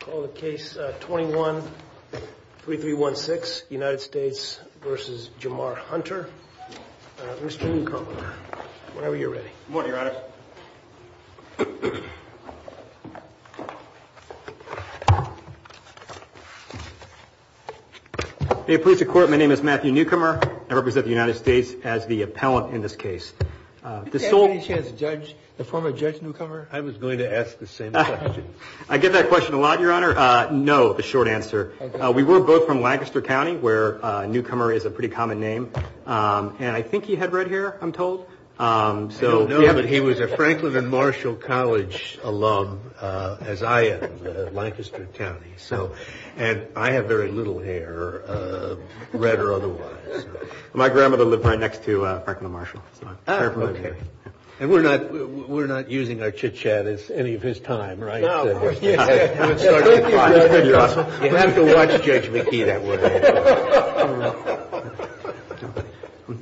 Call the case 21-3316, United States v. Jamar Hunter. Mr. Newcomer, whenever you're ready. Good morning, Your Honor. May it please the Court, my name is Matthew Newcomer. I represent the United States as the appellant in this case. Did you have any chance to judge the former Judge Newcomer? I was going to ask the same question. I get that question a lot, Your Honor. No, the short answer. We were both from Lancaster County, where Newcomer is a pretty common name. And I think he had red hair, I'm told. I don't know, but he was a Franklin and Marshall College alum, as I am, Lancaster County. And I have very little hair, red or otherwise. My grandmother lived right next to Franklin and Marshall. And we're not using our chit-chat as any of his time, right? No, of course not. You have to watch Judge McKee that way.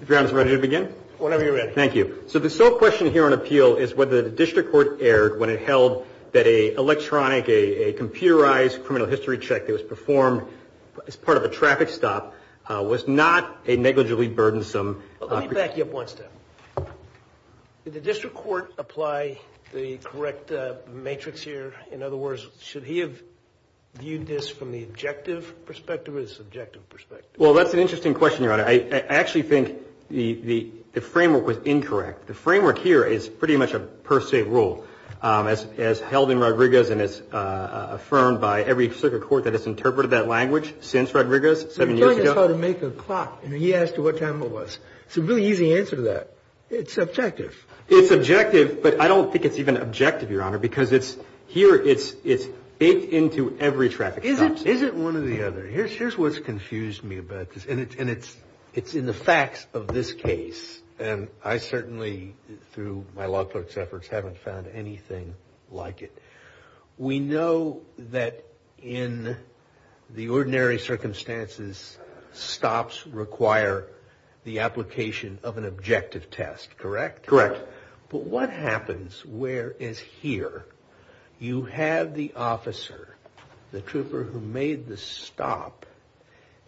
Your Honor, is it ready to begin? Whenever you're ready. Thank you. So the sole question here on appeal is whether the district court erred when it held that an electronic, a computerized criminal history check that was performed as part of a traffic stop was not a negligibly burdensome. Let me back you up one step. Did the district court apply the correct matrix here? In other words, should he have viewed this from the objective perspective or the subjective perspective? Well, that's an interesting question, Your Honor. I actually think the framework was incorrect. The framework here is pretty much a per se rule as held in Rodriguez and as affirmed by every circuit court that has interpreted that language since Rodriguez seven years ago. And he asked what time it was. It's a really easy answer to that. It's subjective. It's objective, but I don't think it's even objective, Your Honor, because here it's baked into every traffic stop. Is it one or the other? Here's what's confused me about this, and it's in the facts of this case. And I certainly, through my law clerk's efforts, haven't found anything like it. We know that in the ordinary circumstances, stops require the application of an objective test, correct? Correct. But what happens where, as here, you have the officer, the trooper who made the stop,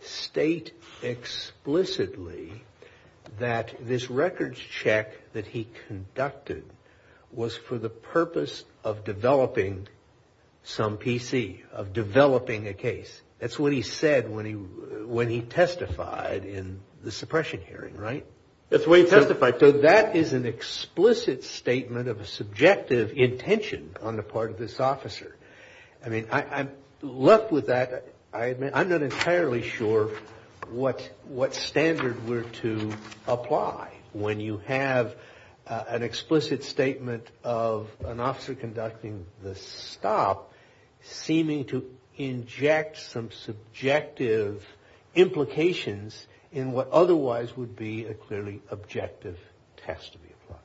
state explicitly that this records check that he conducted was for the purpose of developing some PC, of developing a case? That's what he said when he testified in the suppression hearing, right? That's the way he testified. So that is an explicit statement of a subjective intention on the part of this officer. I mean, I'm left with that. I'm not entirely sure what standard we're to apply when you have an explicit statement of an officer conducting the stop seeming to inject some subjective implications in what otherwise would be a clearly objective test to be applied.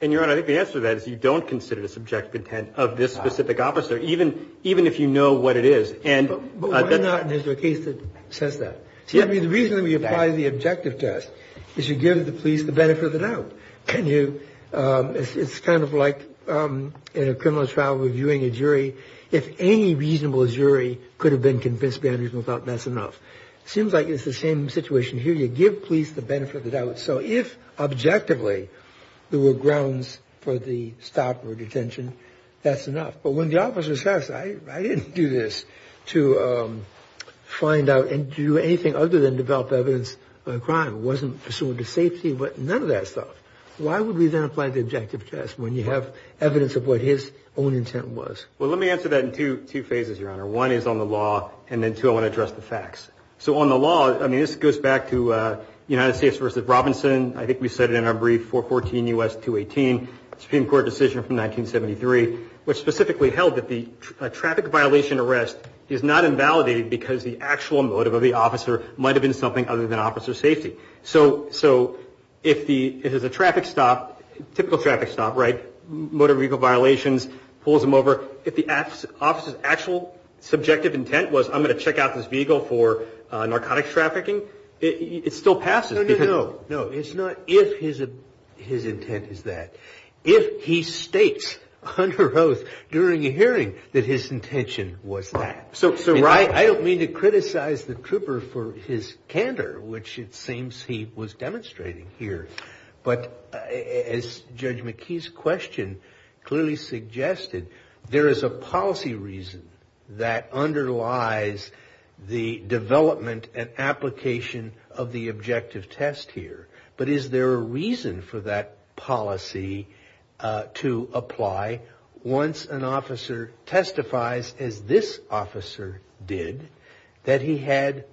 And, Your Honor, I think the answer to that is you don't consider the subjective intent of this specific officer. Even if you know what it is. But why not? And is there a case that says that? The reason that we apply the objective test is you give the police the benefit of the doubt. It's kind of like in a criminal trial reviewing a jury. If any reasonable jury could have been convinced behind reasonable doubt, that's enough. It seems like it's the same situation here. You give police the benefit of the doubt. So if, objectively, there were grounds for the stop or detention, that's enough. But when the officer says, I didn't do this to find out and do anything other than develop evidence of a crime. It wasn't pursuant to safety. None of that stuff. Why would we then apply the objective test when you have evidence of what his own intent was? Well, let me answer that in two phases, Your Honor. One is on the law, and then two, I want to address the facts. So on the law, I mean, this goes back to United States v. Robinson. I think we said it in our brief, 414 U.S. 218, Supreme Court decision from 1973, which specifically held that the traffic violation arrest is not invalidated because the actual motive of the officer might have been something other than officer safety. So if it is a traffic stop, typical traffic stop, right, motor vehicle violations, pulls them over. If the officer's actual subjective intent was, I'm going to check out this vehicle for narcotics trafficking, it still passes. No, no, no. No, it's not if his intent is that. If he states under oath during a hearing that his intention was that. So I don't mean to criticize the trooper for his candor, which it seems he was demonstrating here. But as Judge McKee's question clearly suggested, there is a policy reason that underlies the development and application of the objective test here. But is there a reason for that policy to apply once an officer testifies, as this officer did, that he had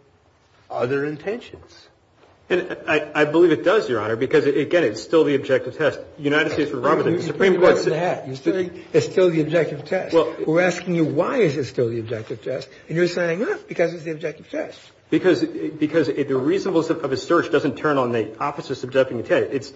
other intentions? And I believe it does, Your Honor, because, again, it's still the objective test. United States v. Robinson. It's still the objective test. We're asking you why is it still the objective test, and you're saying, no, because it's the objective test. Because the reasonableness of a search doesn't turn on the officer's subjective intent.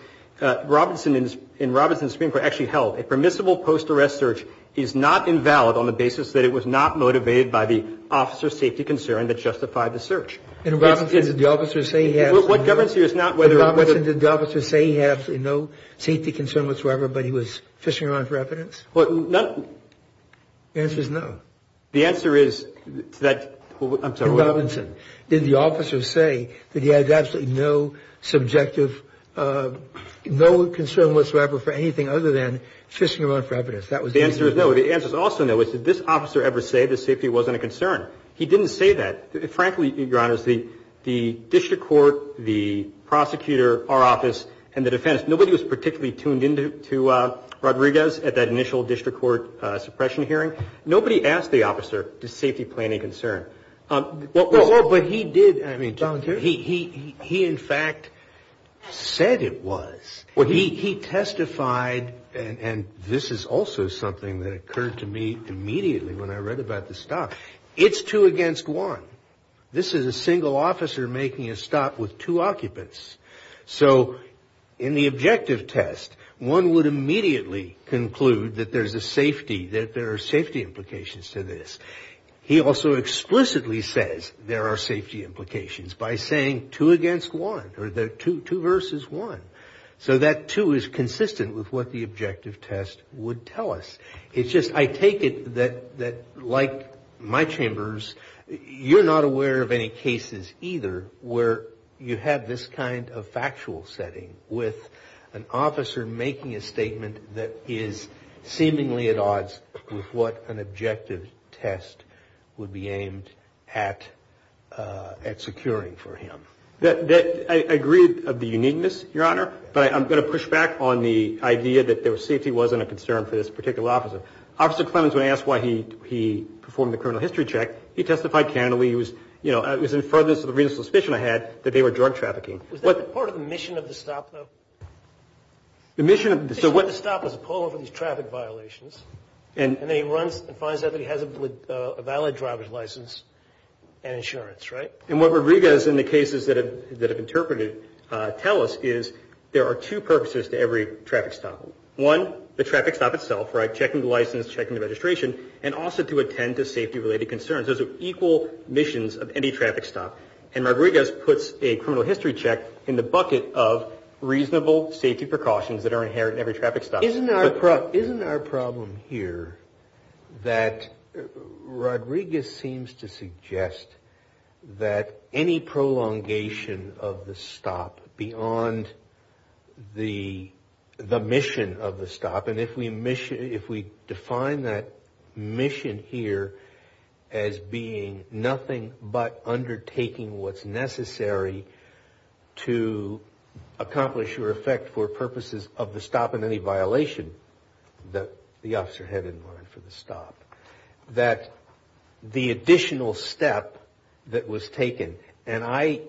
In Robinson's Supreme Court, it actually held a permissible post-arrest search is not invalid on the basis that it was not motivated by the officer's safety concern that justified the search. In Robinson, did the officer say he had no safety concern whatsoever, but he was fishing around for evidence? The answer is no. The answer is that. In Robinson, did the officer say that he had absolutely no subjective, no concern whatsoever for anything other than fishing around for evidence? The answer is no. The answer is also no. Did this officer ever say that safety wasn't a concern? He didn't say that. Frankly, Your Honors, the district court, the prosecutor, our office, and the defense, nobody was particularly tuned in to Rodriguez at that initial district court suppression hearing. Nobody asked the officer, does safety play any concern? But he did. He, in fact, said it was. He testified, and this is also something that occurred to me immediately when I read about the stop. It's two against one. This is a single officer making a stop with two occupants. So in the objective test, one would immediately conclude that there's a safety, that there are safety implications to this. He also explicitly says there are safety implications by saying two against one, or two versus one. So that two is consistent with what the objective test would tell us. It's just I take it that like my chambers, you're not aware of any cases either where you have this kind of factual setting with an officer making a statement that is seemingly at odds with what an objective test would be aimed at securing for him. I agree of the uniqueness, Your Honor. But I'm going to push back on the idea that safety wasn't a concern for this particular officer. Officer Clemmons, when asked why he performed the criminal history check, he testified candidly. He was, you know, it was in furtherance of the reasonable suspicion I had that they were drug trafficking. Was that part of the mission of the stop, though? The mission of the stop was to pull over these traffic violations. And then he runs and finds out that he has a valid driver's license and insurance, right? And what Rodriguez and the cases that have interpreted tell us is there are two purposes to every traffic stop. One, the traffic stop itself, right, checking the license, checking the registration, and also to attend to safety-related concerns. Those are equal missions of any traffic stop. And Rodriguez puts a criminal history check in the bucket of reasonable safety precautions that are inherent in every traffic stop. Isn't our problem here that Rodriguez seems to suggest that any prolongation of the stop beyond the mission of the stop, and if we define that mission here as being nothing but undertaking what's necessary to accomplish or effect for purposes of the stop in any violation that the officer had in mind for the stop, that the additional step that was taken, and I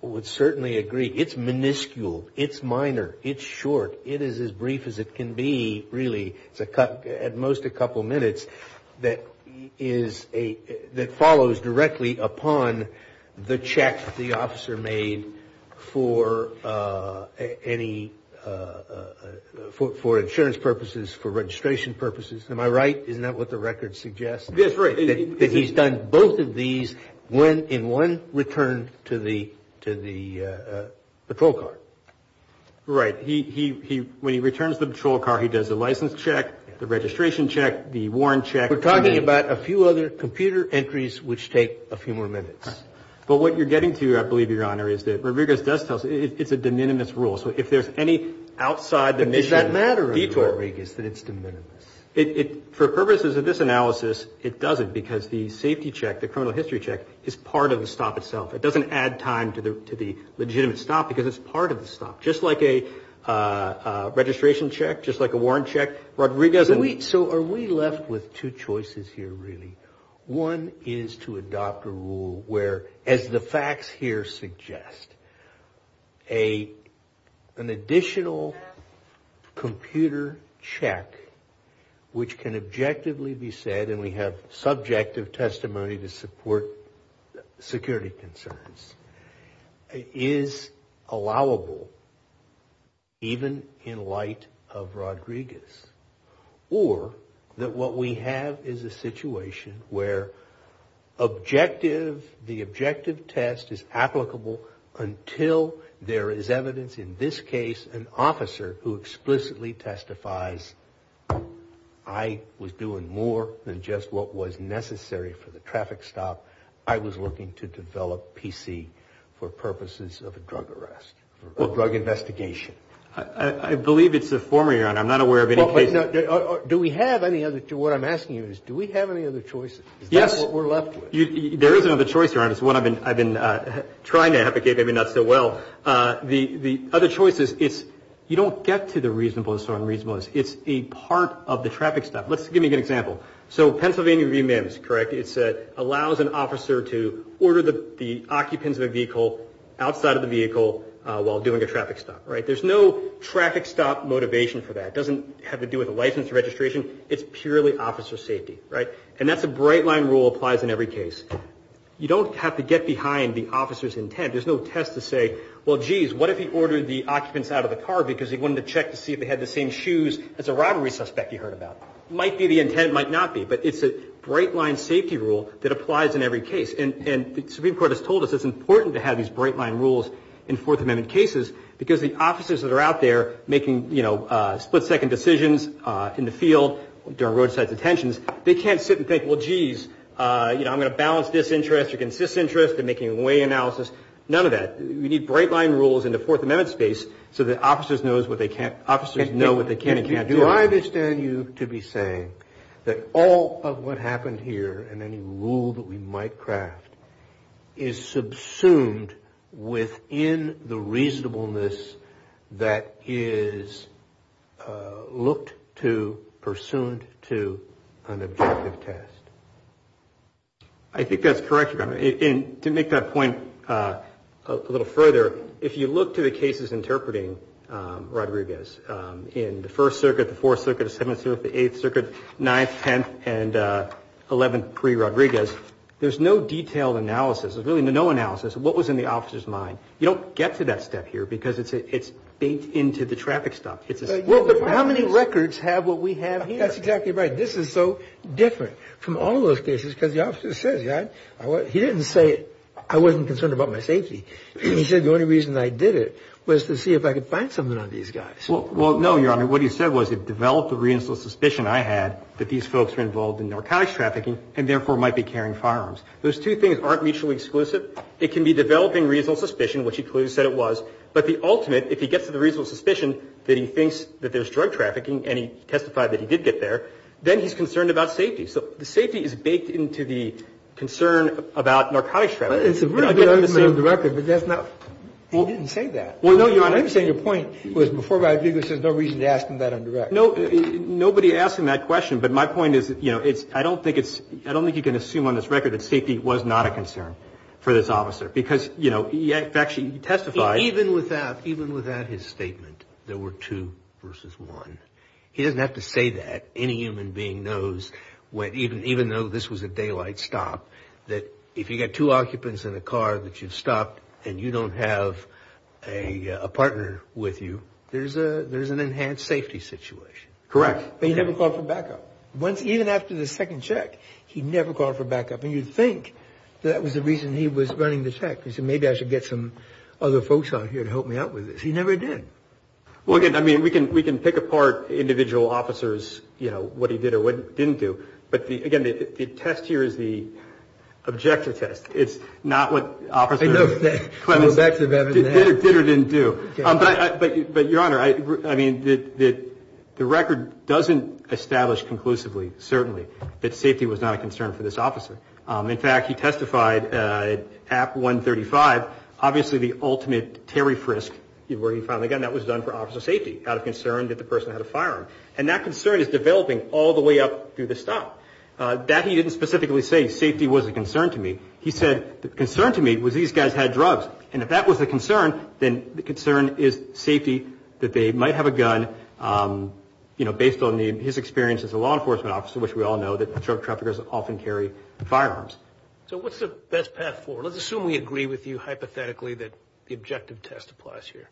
would certainly agree, it's minuscule, it's minor, it's short, it is as brief as it can be, really. It's at most a couple minutes that follows directly upon the check the officer made for insurance purposes, for registration purposes. Am I right? Isn't that what the record suggests? Yes, right. That he's done both of these in one return to the patrol car. Right. When he returns the patrol car, he does the license check, the registration check, the warrant check. We're talking about a few other computer entries which take a few more minutes. But what you're getting to, I believe, Your Honor, is that Rodriguez does tell us it's a de minimis rule. So if there's any outside the mission detour. But does that matter, Rodriguez, that it's de minimis? For purposes of this analysis, it doesn't because the safety check, the criminal history check, is part of the stop itself. It doesn't add time to the legitimate stop because it's part of the stop. Just like a registration check, just like a warrant check, Rodriguez doesn't. So are we left with two choices here, really? One is to adopt a rule where, as the facts here suggest, an additional computer check which can objectively be said, and we have subjective testimony to support security concerns, is allowable even in light of Rodriguez. Or that what we have is a situation where the objective test is applicable until there is evidence, in this case, an officer who explicitly testifies, I was doing more than just what was necessary for the traffic stop. I was looking to develop PC for purposes of a drug arrest or drug investigation. I believe it's the former, Your Honor. I'm not aware of any case. Do we have any other? What I'm asking you is do we have any other choices? Yes. Is that what we're left with? There is another choice, Your Honor. It's one I've been trying to advocate, maybe not so well. The other choice is you don't get to the reasonableness or unreasonableness. It's a part of the traffic stop. Let's give you an example. So Pennsylvania Review-MIMS, correct? It allows an officer to order the occupants of a vehicle outside of the vehicle while doing a traffic stop, right? There's no traffic stop motivation for that. It doesn't have to do with a license or registration. It's purely officer safety, right? And that's a bright-line rule that applies in every case. You don't have to get behind the officer's intent. There's no test to say, well, geez, what if he ordered the occupants out of the car because he wanted to check to see if they had the same shoes as a robbery suspect he heard about. It might be the intent. It might not be. But it's a bright-line safety rule that applies in every case. And the Supreme Court has told us it's important to have these bright-line rules in Fourth Amendment cases because the officers that are out there making, you know, split-second decisions in the field during roadside detentions, they can't sit and think, well, geez, you know, I'm going to balance this interest against this interest and make a way analysis. None of that. We need bright-line rules in the Fourth Amendment space so that officers know what they can and can't do. So I understand you to be saying that all of what happened here and any rule that we might craft is subsumed within the reasonableness that is looked to, pursuant to an objective test. I think that's correct, Governor. To make that point a little further, if you look to the cases interpreting Rodriguez in the First Circuit, the Fourth Circuit, the Seventh Circuit, the Eighth Circuit, Ninth, Tenth, and Eleventh pre-Rodriguez, there's no detailed analysis, there's really no analysis of what was in the officer's mind. You don't get to that step here because it's baked into the traffic stop. How many records have what we have here? That's exactly right. This is so different from all of those cases because the officer says, you know, he didn't say I wasn't concerned about my safety. He said the only reason I did it was to see if I could find something on these guys. Well, no, Your Honor. What he said was it developed a reasonable suspicion I had that these folks were involved in narcotics trafficking and therefore might be carrying firearms. Those two things aren't mutually exclusive. It can be developing reasonable suspicion, which he clearly said it was, but the ultimate, if he gets to the reasonable suspicion that he thinks that there's drug trafficking and he testified that he did get there, then he's concerned about safety. So the safety is baked into the concern about narcotics trafficking. It's a really good argument on the record, but that's not, he didn't say that. Well, no, Your Honor. I understand your point was before Rodriguez there's no reason to ask him that on direct. No, nobody asked him that question, but my point is, you know, it's, I don't think it's, I don't think you can assume on this record that safety was not a concern for this officer because, you know, he actually testified. Even without his statement there were two versus one. He doesn't have to say that. Any human being knows, even though this was a daylight stop, that if you've got two occupants in a car that you've stopped and you don't have a partner with you, there's an enhanced safety situation. Correct. But he never called for backup. Even after the second check, he never called for backup. And you'd think that was the reason he was running the check. He said maybe I should get some other folks out here to help me out with this. He never did. Well, again, I mean, we can pick apart individual officers, you know, what he did or what he didn't do. But, again, the test here is the objective test. It's not what officer Clemens did or didn't do. But, Your Honor, I mean, the record doesn't establish conclusively, certainly, that safety was not a concern for this officer. In fact, he testified at 135, obviously the ultimate Terry Frisk, where he finally got, and that was done for officer safety out of concern that the person had a firearm. And that concern is developing all the way up through the stop. That he didn't specifically say safety was a concern to me. He said the concern to me was these guys had drugs. And if that was a concern, then the concern is safety that they might have a gun, you know, So what's the best path forward? Let's assume we agree with you hypothetically that the objective test applies here.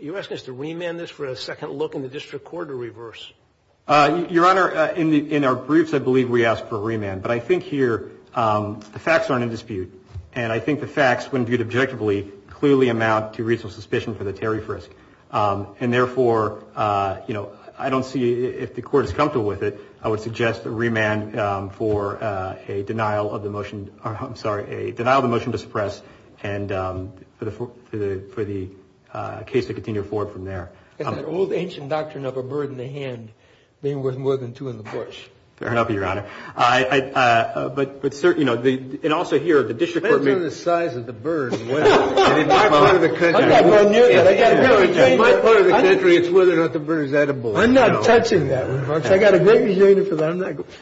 Are you asking us to remand this for a second look in the district court or reverse? Your Honor, in our briefs, I believe we ask for a remand. But I think here the facts aren't in dispute. And I think the facts, when viewed objectively, clearly amount to reasonable suspicion for the Terry Frisk. And therefore, you know, I don't see, if the court is comfortable with it, I would suggest a remand for a denial of the motion, I'm sorry, a denial of the motion to suppress and for the case to continue forward from there. That old ancient doctrine of a bird in the hand being worth more than two in the bush. Fair enough, Your Honor. But certainly, you know, and also here, the district court may I'm not going near that. In my part of the country, it's whether or not the bird is edible. I'm not touching that. I got a great reason for that. I'm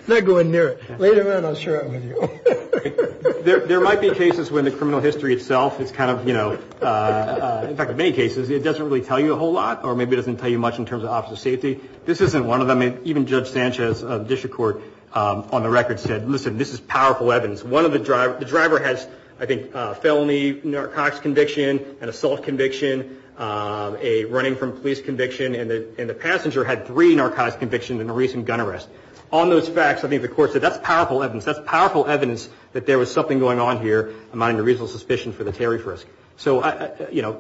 not going near it. Later on, I'll share it with you. There might be cases when the criminal history itself is kind of, you know, in fact, in many cases, it doesn't really tell you a whole lot, or maybe it doesn't tell you much in terms of officer safety. This isn't one of them. Even Judge Sanchez of the district court on the record said, listen, this is powerful evidence. The driver has, I think, a felony narcotics conviction, an assault conviction, a running from police conviction, and the passenger had three narcotics convictions and a recent gun arrest. On those facts, I think the court said that's powerful evidence. That's powerful evidence that there was something going on here, amounting to reasonable suspicion for the tariff risk. So, you know,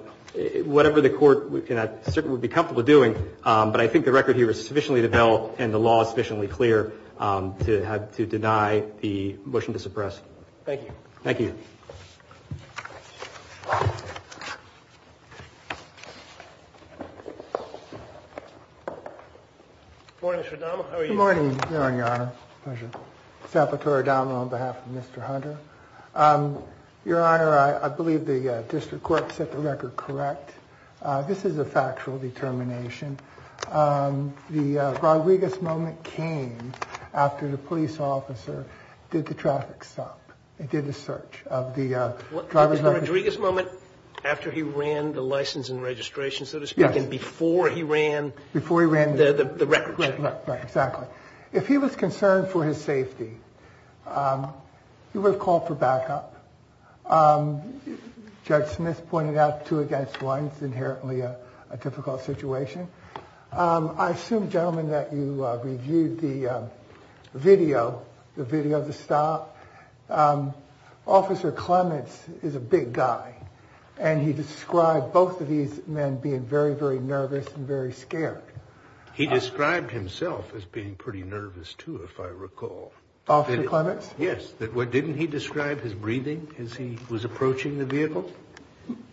whatever the court would be comfortable doing, but I think the record here is sufficiently developed and the law is sufficiently clear to deny the motion to suppress. Thank you. Thank you. Good morning, Mr. Adama. How are you? Good morning, Your Honor. Pleasure. Salvatore Adama on behalf of Mr. Hunter. Your Honor, I believe the district court set the record correct. This is a factual determination. The Rodriguez moment came after the police officer did the traffic stop and did the search of the driver's license. The Rodriguez moment after he ran the license and registration, so to speak, and before he ran the record check. Right, exactly. If he was concerned for his safety, he would have called for backup. Judge Smith pointed out two against one. It's inherently a difficult situation. I assume, gentlemen, that you reviewed the video, the video of the stop. Officer Clements is a big guy, and he described both of these men being very, very nervous and very scared. He described himself as being pretty nervous, too, if I recall. Officer Clements? Yes. Didn't he describe his breathing as he was approaching the vehicle?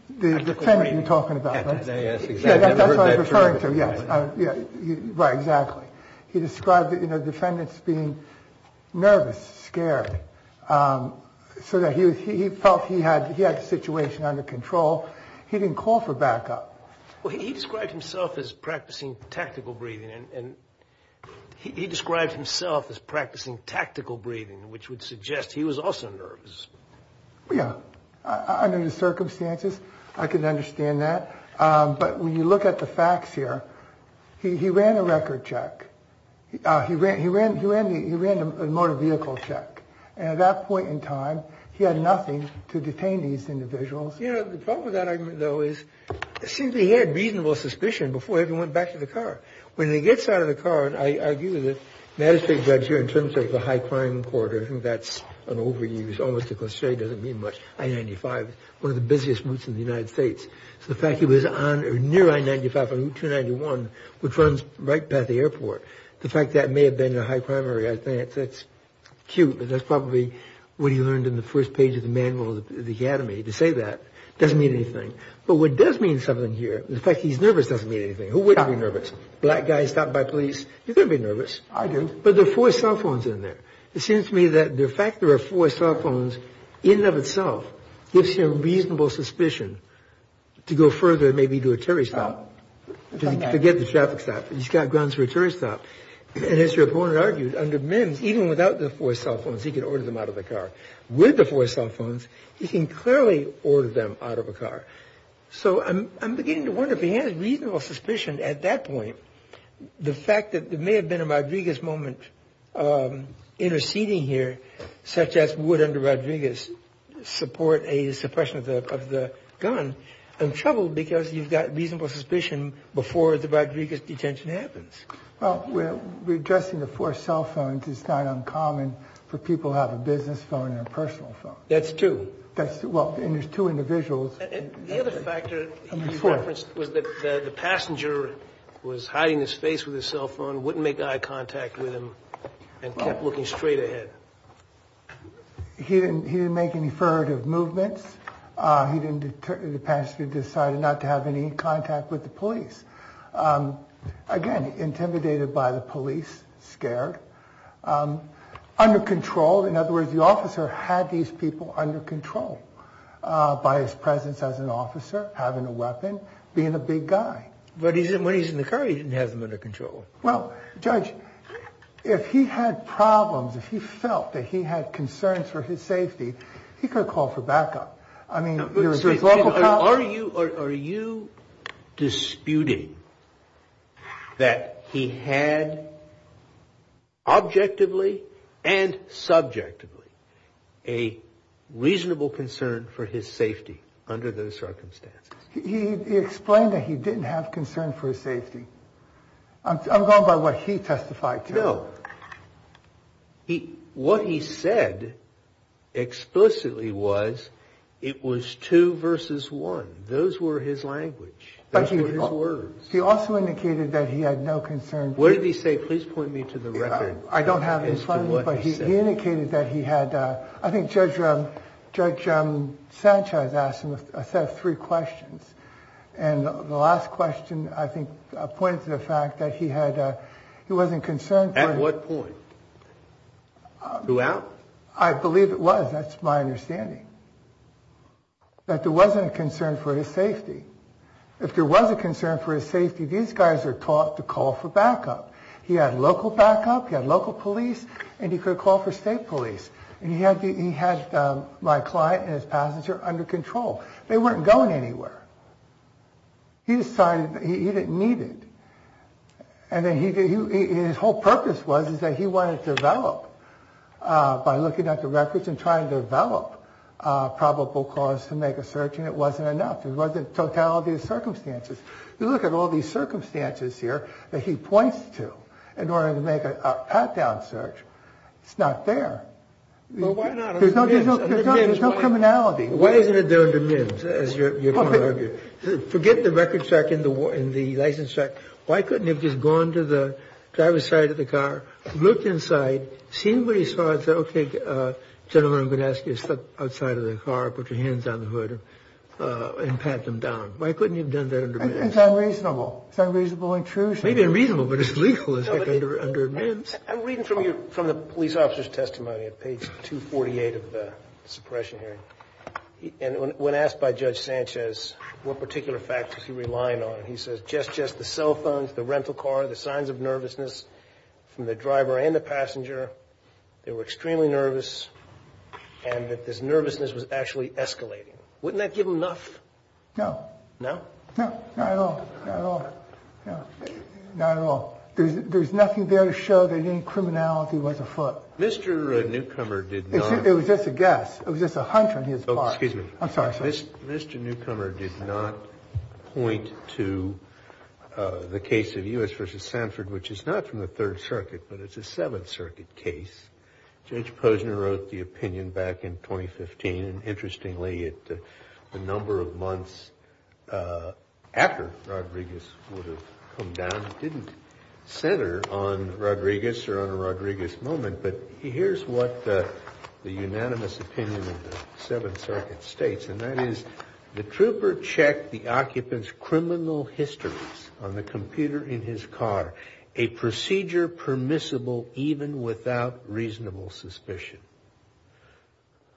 The defendant you're talking about, right? Yes, exactly. That's what I'm referring to, yes. Right, exactly. He described the defendants being nervous, scared, so that he felt he had the situation under control. He didn't call for backup. Well, he described himself as practicing tactical breathing, and he described himself as practicing tactical breathing, which would suggest he was also nervous. Yeah. Under the circumstances, I can understand that. But when you look at the facts here, he ran a record check. He ran a motor vehicle check. And at that point in time, he had nothing to detain these individuals. You know, the problem with that argument, though, is it seems he had reasonable suspicion before he even went back to the car. When he gets out of the car, I argue that the magistrate judge here, in terms of the high crime court, I think that's an overuse, almost a cliché. It doesn't mean much. I-95, one of the busiest routes in the United States. So the fact he was on or near I-95 on Route 291, which runs right past the airport, the fact that may have been a high crime area, I think that's cute, but that's probably what he learned in the first page of the manual of the academy, to say that. It doesn't mean anything. But what does mean something here, the fact he's nervous doesn't mean anything. Who wouldn't be nervous? Black guy stopped by police. He's going to be nervous. I do. But there are four cell phones in there. It seems to me that the fact there are four cell phones in and of itself gives him reasonable suspicion to go further, maybe to a tourist stop. Forget the traffic stop. He's got grounds for a tourist stop. And as your opponent argued, under Mims, even without the four cell phones, he could order them out of the car. With the four cell phones, he can clearly order them out of a car. So I'm beginning to wonder if he has reasonable suspicion at that point, The fact that there may have been a Rodriguez moment interceding here, such as would under Rodriguez support a suppression of the gun, I'm troubled because you've got reasonable suspicion before the Rodriguez detention happens. Well, we're addressing the four cell phones. It's not uncommon for people to have a business phone and a personal phone. That's true. Well, and there's two individuals. The other factor you referenced was that the passenger was hiding his face with his cell phone, wouldn't make eye contact with him and kept looking straight ahead. He didn't make any furtive movements. He didn't. The passenger decided not to have any contact with the police. Again, intimidated by the police, scared, under control. In other words, the officer had these people under control by his presence as an officer, having a weapon, being a big guy. But he's in when he's in the car. He didn't have them under control. Well, Judge, if he had problems, if he felt that he had concerns for his safety, he could call for backup. I mean, are you are you disputing that he had objectively and subjectively a reasonable concern for his safety under those circumstances? He explained that he didn't have concern for his safety. I'm going by what he testified. No. What he said explicitly was it was two versus one. Those were his language. But he also indicated that he had no concern. What did he say? Please point me to the record. I don't have it in front of me, but he indicated that he had. I think Judge, Judge Sanchez asked him a set of three questions. And the last question, I think, pointed to the fact that he had he wasn't concerned. At what point? Throughout. I believe it was. That's my understanding. That there wasn't a concern for his safety. If there was a concern for his safety, these guys are taught to call for backup. He had local backup. He had local police. And he could call for state police. And he had he had my client and his passenger under control. They weren't going anywhere. He decided he didn't need it. And then he did. His whole purpose was is that he wanted to develop by looking at the records and trying to develop probable cause to make a search. And it wasn't enough. It wasn't totality of circumstances. You look at all these circumstances here that he points to in order to make a pat down search. It's not there. But why not? There's no there's no there's no criminality. Why isn't it there under MIMS? Forget the record check in the war and the license check. Why couldn't you have just gone to the driver's side of the car? Look inside. See what he saw. It's OK. Gentlemen, I'm going to ask you to step outside of the car. Put your hands on the hood and pat them down. Why couldn't you have done that? It's unreasonable. It's unreasonable. Intrusion may be unreasonable, but it's legal. I'm reading from you from the police officer's testimony at page 248 of the suppression hearing. And when asked by Judge Sanchez, what particular factors you rely on? And he says just just the cell phones, the rental car, the signs of nervousness from the driver and the passenger. They were extremely nervous. And that this nervousness was actually escalating. Wouldn't that give him enough? No, no, no, no, no, no, no, no, no. There's nothing there to show that any criminality was afoot. Mr. Newcomer did not. It was just a guess. It was just a hunch on his part. Excuse me. I'm sorry. Mr. Newcomer did not point to the case of U.S. versus Sanford, which is not from the Third Circuit, but it's a Seventh Circuit case. Judge Posner wrote the opinion back in 2015. Interestingly, the number of months after Rodriguez would have come down didn't center on Rodriguez or on a Rodriguez moment. But here's what the unanimous opinion of the Seventh Circuit states. And that is the trooper checked the occupant's criminal histories on the computer in his car, a procedure permissible even without reasonable suspicion.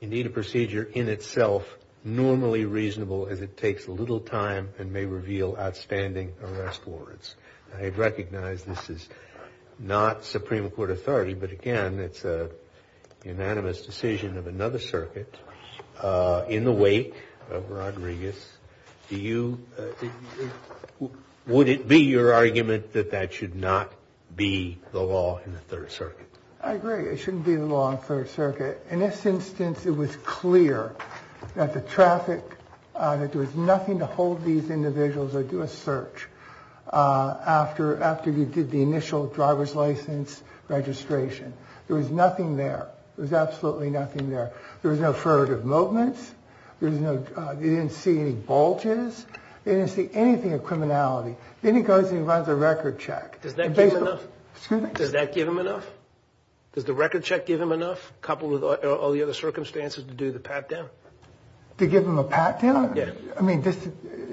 Indeed, a procedure in itself normally reasonable as it takes little time and may reveal outstanding arrest warrants. I recognize this is not Supreme Court authority, but, again, it's an unanimous decision of another circuit in the wake of Rodriguez. Do you – would it be your argument that that should not be the law in the Third Circuit? I agree. It shouldn't be the law in the Third Circuit. In this instance, it was clear that the traffic – that there was nothing to hold these individuals or do a search after you did the initial driver's license registration. There was nothing there. There was absolutely nothing there. There was no furtive movements. There was no – they didn't see any bulges. They didn't see anything of criminality. Then he goes and he runs a record check. Does that give him enough? Excuse me? Does the record check give him enough, coupled with all the other circumstances, to do the pat down? To give him a pat down? Yeah. I mean,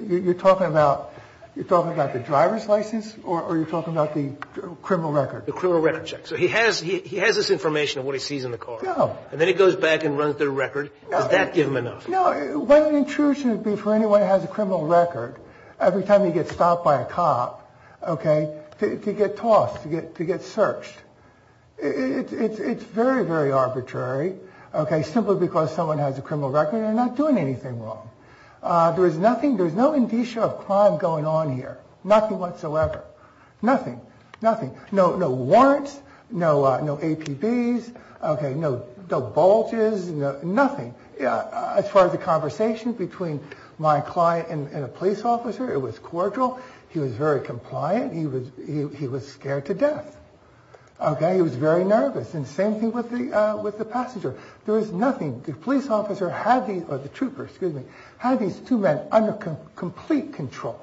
you're talking about the driver's license or are you talking about the criminal record? The criminal record check. So he has this information of what he sees in the car. No. And then he goes back and runs the record. Does that give him enough? No. What an intrusion it would be for anyone who has a criminal record, every time he gets stopped by a cop, okay, to get tossed, to get searched. It's very, very arbitrary, okay, simply because someone has a criminal record. They're not doing anything wrong. There was nothing – there was no indicia of crime going on here. Nothing whatsoever. Nothing. Nothing. No warrants, no APBs, okay, no bulges, nothing. As far as the conversation between my client and a police officer, it was cordial. He was very compliant. He was scared to death, okay. He was very nervous. And same thing with the passenger. There was nothing. The police officer had these – or the trooper, excuse me – had these two men under complete control.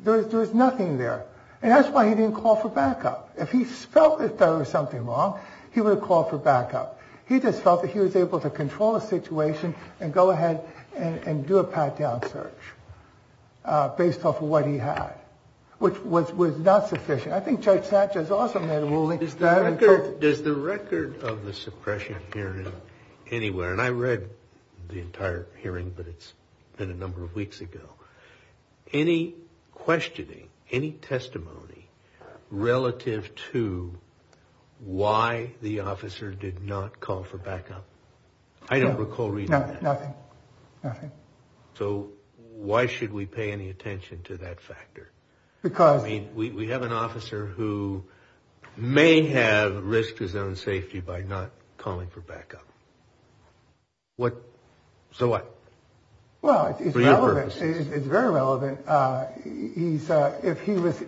There was nothing there. And that's why he didn't call for backup. If he felt that there was something wrong, he would have called for backup. He just felt that he was able to control the situation and go ahead and do a pat down search based off of what he had. Which was not sufficient. I think Judge Satcher's also made a ruling. Does the record of the suppression hearing anywhere – and I read the entire hearing, but it's been a number of weeks ago – any questioning, any testimony relative to why the officer did not call for backup? I don't recall reading that. Nothing. Nothing. So why should we pay any attention to that factor? Because – I mean, we have an officer who may have risked his own safety by not calling for backup. So what? Well, it's relevant. For your purposes. It's very relevant.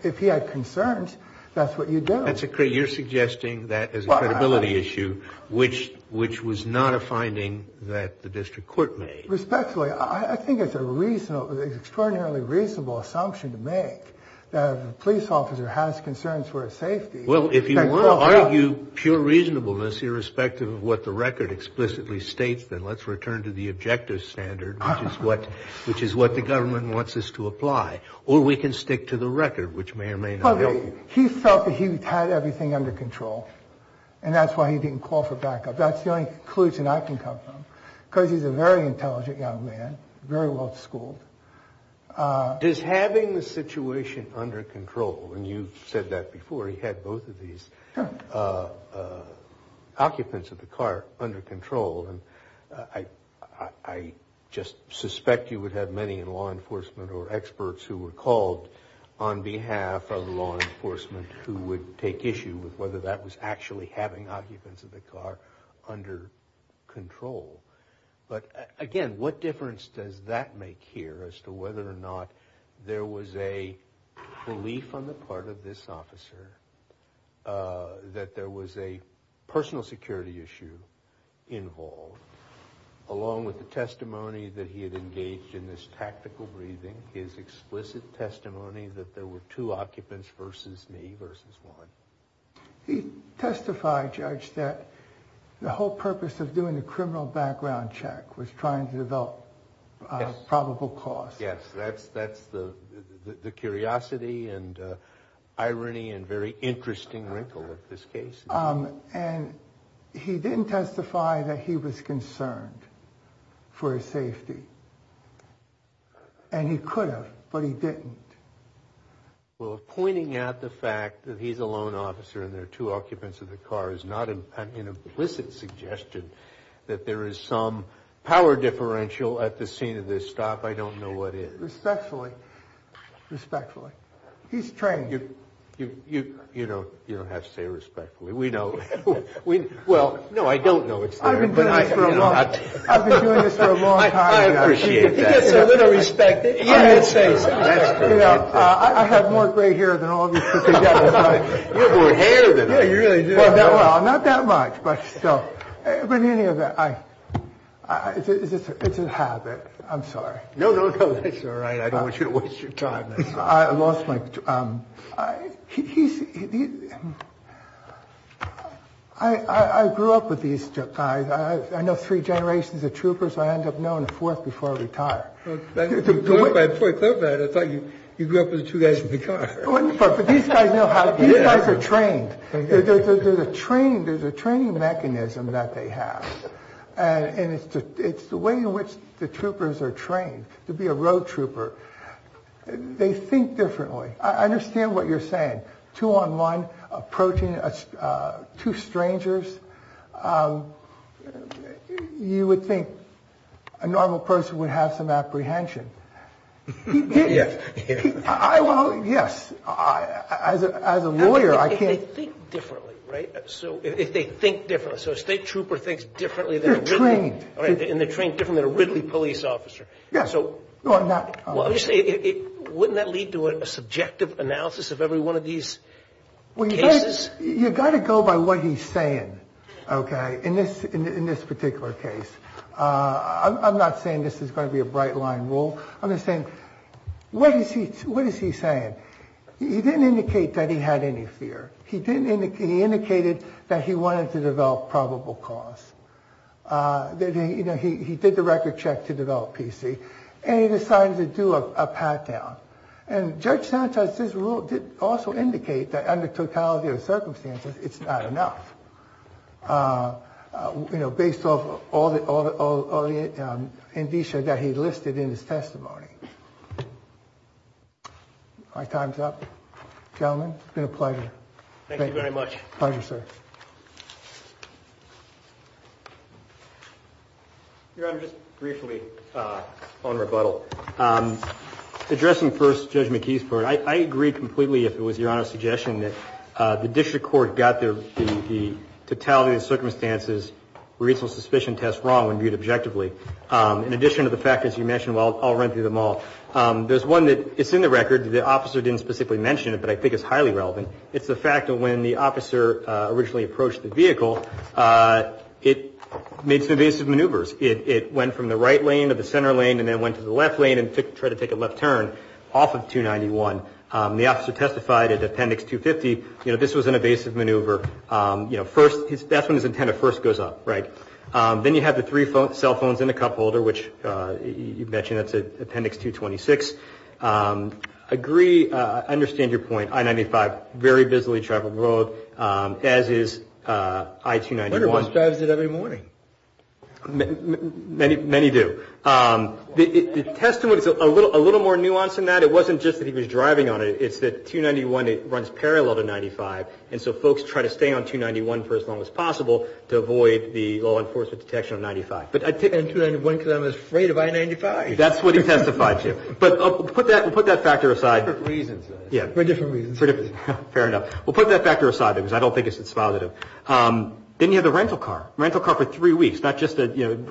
If he had concerns, that's what you do. You're suggesting that as a credibility issue, which was not a finding that the district court made. Respectfully, I think it's an extraordinarily reasonable assumption to make that a police officer has concerns for his safety. Well, if you want to argue pure reasonableness irrespective of what the record explicitly states, then let's return to the objective standard, which is what the government wants us to apply. Or we can stick to the record, which may or may not help. He felt that he had everything under control. And that's why he didn't call for backup. That's the only conclusion I can come from. Because he's a very intelligent young man. Very well schooled. Does having the situation under control – and you've said that before. He had both of these occupants of the car under control. And I just suspect you would have many in law enforcement or experts who were called on behalf of law enforcement who would take issue with whether that was actually having occupants of the car under control. But again, what difference does that make here as to whether or not there was a belief on the part of this officer that there was a personal security issue involved, along with the testimony that he had engaged in this tactical breathing, his explicit testimony that there were two occupants versus me versus one? He testified, Judge, that the whole purpose of doing the criminal background check was trying to develop probable cause. Yes, that's the curiosity and irony and very interesting wrinkle of this case. And he didn't testify that he was concerned for his safety. And he could have, but he didn't. Well, pointing out the fact that he's a lone officer and there are two occupants of the car is not an implicit suggestion that there is some power differential at the scene of this stop. I don't know what is. Respectfully. Respectfully. He's trained. You don't have to say respectfully. We know – well, no, I don't know it's there. I've been doing this for a long time. I appreciate that. He gets a little respect. I have more gray hair than all of you put together. You have more hair than him. Well, not that much, but still. But in any event, it's a habit. I'm sorry. No, no, no. That's all right. I don't want you to waste your time. I lost my – he's – I grew up with these two guys. I know three generations of troopers. I end up knowing a fourth before I retire. Before I come back, I thought you grew up with the two guys in the car. But these guys know how to – these guys are trained. There's a training mechanism that they have. And it's the way in which the troopers are trained to be a road trooper. They think differently. I understand what you're saying. Two on one, approaching two strangers. You would think a normal person would have some apprehension. Yes. Well, yes. As a lawyer, I can't – They think differently, right? If they think differently. So a state trooper thinks differently than a – They're trained. And they're trained differently than a Ridley police officer. Yes. So wouldn't that lead to a subjective analysis of every one of these cases? You've got to go by what he's saying, okay, in this particular case. I'm not saying this is going to be a bright line rule. I'm just saying, what is he saying? He didn't indicate that he had any fear. He indicated that he wanted to develop probable cause. You know, he did the record check to develop PC. And he decided to do a pat down. And Judge Sanchez's rule did also indicate that under totality of circumstances, it's not enough. You know, based off all the indicia that he listed in his testimony. My time's up. Gentlemen, it's been a pleasure. Thank you very much. Pleasure, sir. Your Honor, just briefly on rebuttal. Addressing first Judge McKee's point, I agree completely if it was Your Honor's suggestion that the district court got the totality of circumstances reasonable suspicion test wrong when viewed objectively. In addition to the factors you mentioned, I'll run through them all. There's one that is in the record. The officer didn't specifically mention it, but I think it's highly relevant. It's the fact that when the officer originally approached the vehicle, it made some evasive maneuvers. It went from the right lane to the center lane and then went to the left lane and tried to take a left turn off of 291. The officer testified at Appendix 250, you know, this was an evasive maneuver. You know, first, that's when his antenna first goes up, right? Then you have the three cell phones in the cup holder, which you mentioned that's at Appendix 226. I agree, I understand your point. I-95, very busily traveled road, as is I-291. I wonder who drives it every morning. Many do. The testimony is a little more nuanced than that. It wasn't just that he was driving on it. It's that 291 runs parallel to 95, and so folks try to stay on 291 for as long as possible to avoid the law enforcement detection of 95. And 291 because I'm afraid of I-95. That's what he testified to. But we'll put that factor aside. For different reasons. Yeah. For different reasons. Fair enough. We'll put that factor aside because I don't think it's positive. Then you have the rental car. Rental car for three weeks, not just a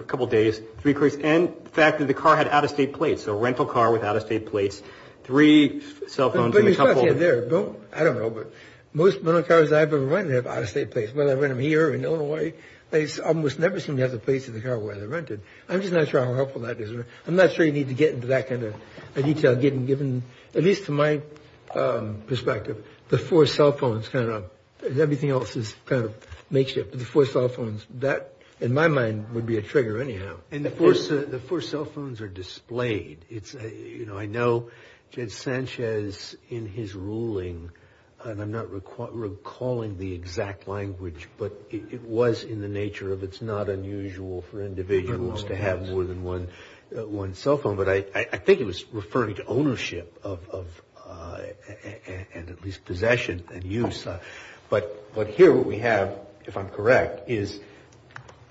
couple days, three weeks. And the fact that the car had out-of-state plates, so a rental car with out-of-state plates, three cell phones in the cup holder. I don't know, but most rental cars I've ever rented have out-of-state plates. Whether I rent them here or in Illinois, they almost never seem to have the plates in the car where they're rented. I'm just not sure how helpful that is. I'm not sure you need to get into that kind of detail given, at least to my perspective, the four cell phones. Everything else is kind of makeshift, but the four cell phones. That, in my mind, would be a trigger anyhow. And the four cell phones are displayed. I know Judge Sanchez in his ruling, and I'm not recalling the exact language, but it was in the nature of it's not unusual for individuals to have more than one cell phone. But I think it was referring to ownership and at least possession and use. But here what we have, if I'm correct, is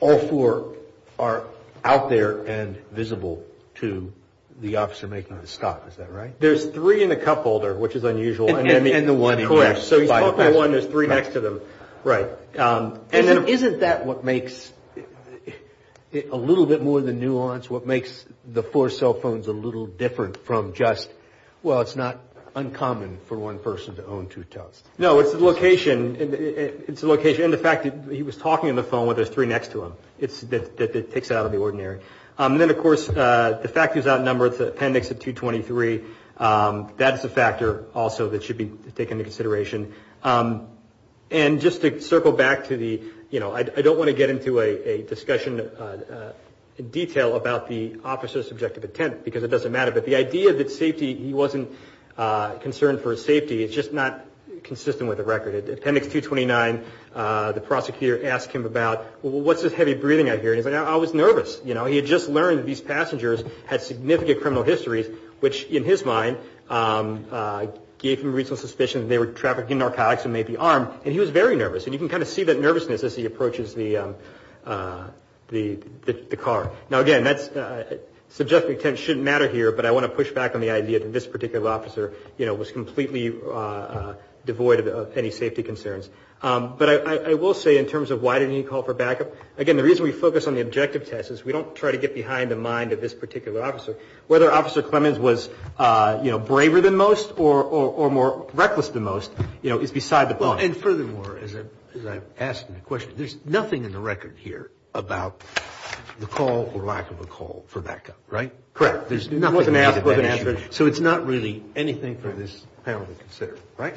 all four are out there and visible to the officer making the stop. Is that right? There's three in the cup holder, which is unusual. And the one next to it. Right. Isn't that what makes it a little bit more of the nuance, what makes the four cell phones a little different from just, well, it's not uncommon for one person to own two tubs? No, it's the location. It's the location and the fact that he was talking on the phone when there's three next to him. It's that it takes it out of the ordinary. And then, of course, the fact he was outnumbered, the appendix of 223, that is a factor also that should be taken into consideration. And just to circle back to the, you know, I don't want to get into a discussion in detail about the officer's subjective intent, because it doesn't matter. But the idea that safety, he wasn't concerned for his safety, is just not consistent with the record. Appendix 229, the prosecutor asked him about, well, what's this heavy breathing I hear? And he's like, I was nervous. You know, he had just learned these passengers had significant criminal histories, which, in his mind, gave him reasonable suspicion that they were trafficking narcotics and may be armed. And he was very nervous. And you can kind of see that nervousness as he approaches the car. Now, again, subjective intent shouldn't matter here, but I want to push back on the idea that this particular officer, you know, was completely devoid of any safety concerns. But I will say, in terms of why didn't he call for backup, again, the reason we focus on the objective test is we don't try to get behind the mind of this particular officer. Whether Officer Clemens was, you know, braver than most or more reckless than most, you know, is beside the point. And furthermore, as I've asked in the question, there's nothing in the record here about the call or lack of a call for backup, right? Correct. There's nothing to do with that issue. So it's not really anything for this panel to consider, right?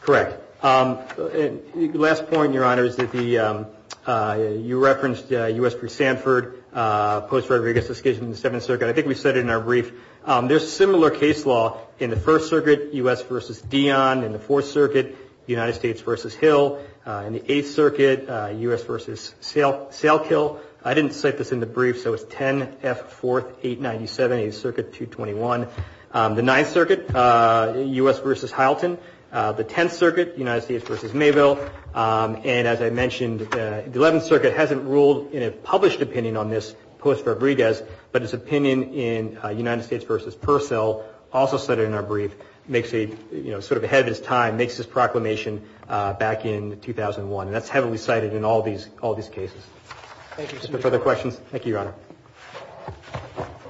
Correct. Last point, Your Honor, is that you referenced U.S. v. Stanford, post-Rodriguez discussion in the Seventh Circuit. I think we said it in our brief. There's similar case law in the First Circuit, U.S. v. Dion, in the Fourth Circuit, United States v. Hill, in the Eighth Circuit, U.S. v. Salkill. I didn't cite this in the brief, so it's 10F4897, Eighth Circuit, 221. The Ninth Circuit, U.S. v. Hylton, the Tenth Circuit, United States v. Mayville, and, as I mentioned, the Eleventh Circuit hasn't ruled in a published opinion on this post-Rodriguez, but its opinion in United States v. Purcell, also cited in our brief, makes a, you know, sort of ahead of its time, makes this proclamation back in 2001. And that's heavily cited in all these cases. Thank you, Your Honor. Any further questions? Thank you, Your Honor.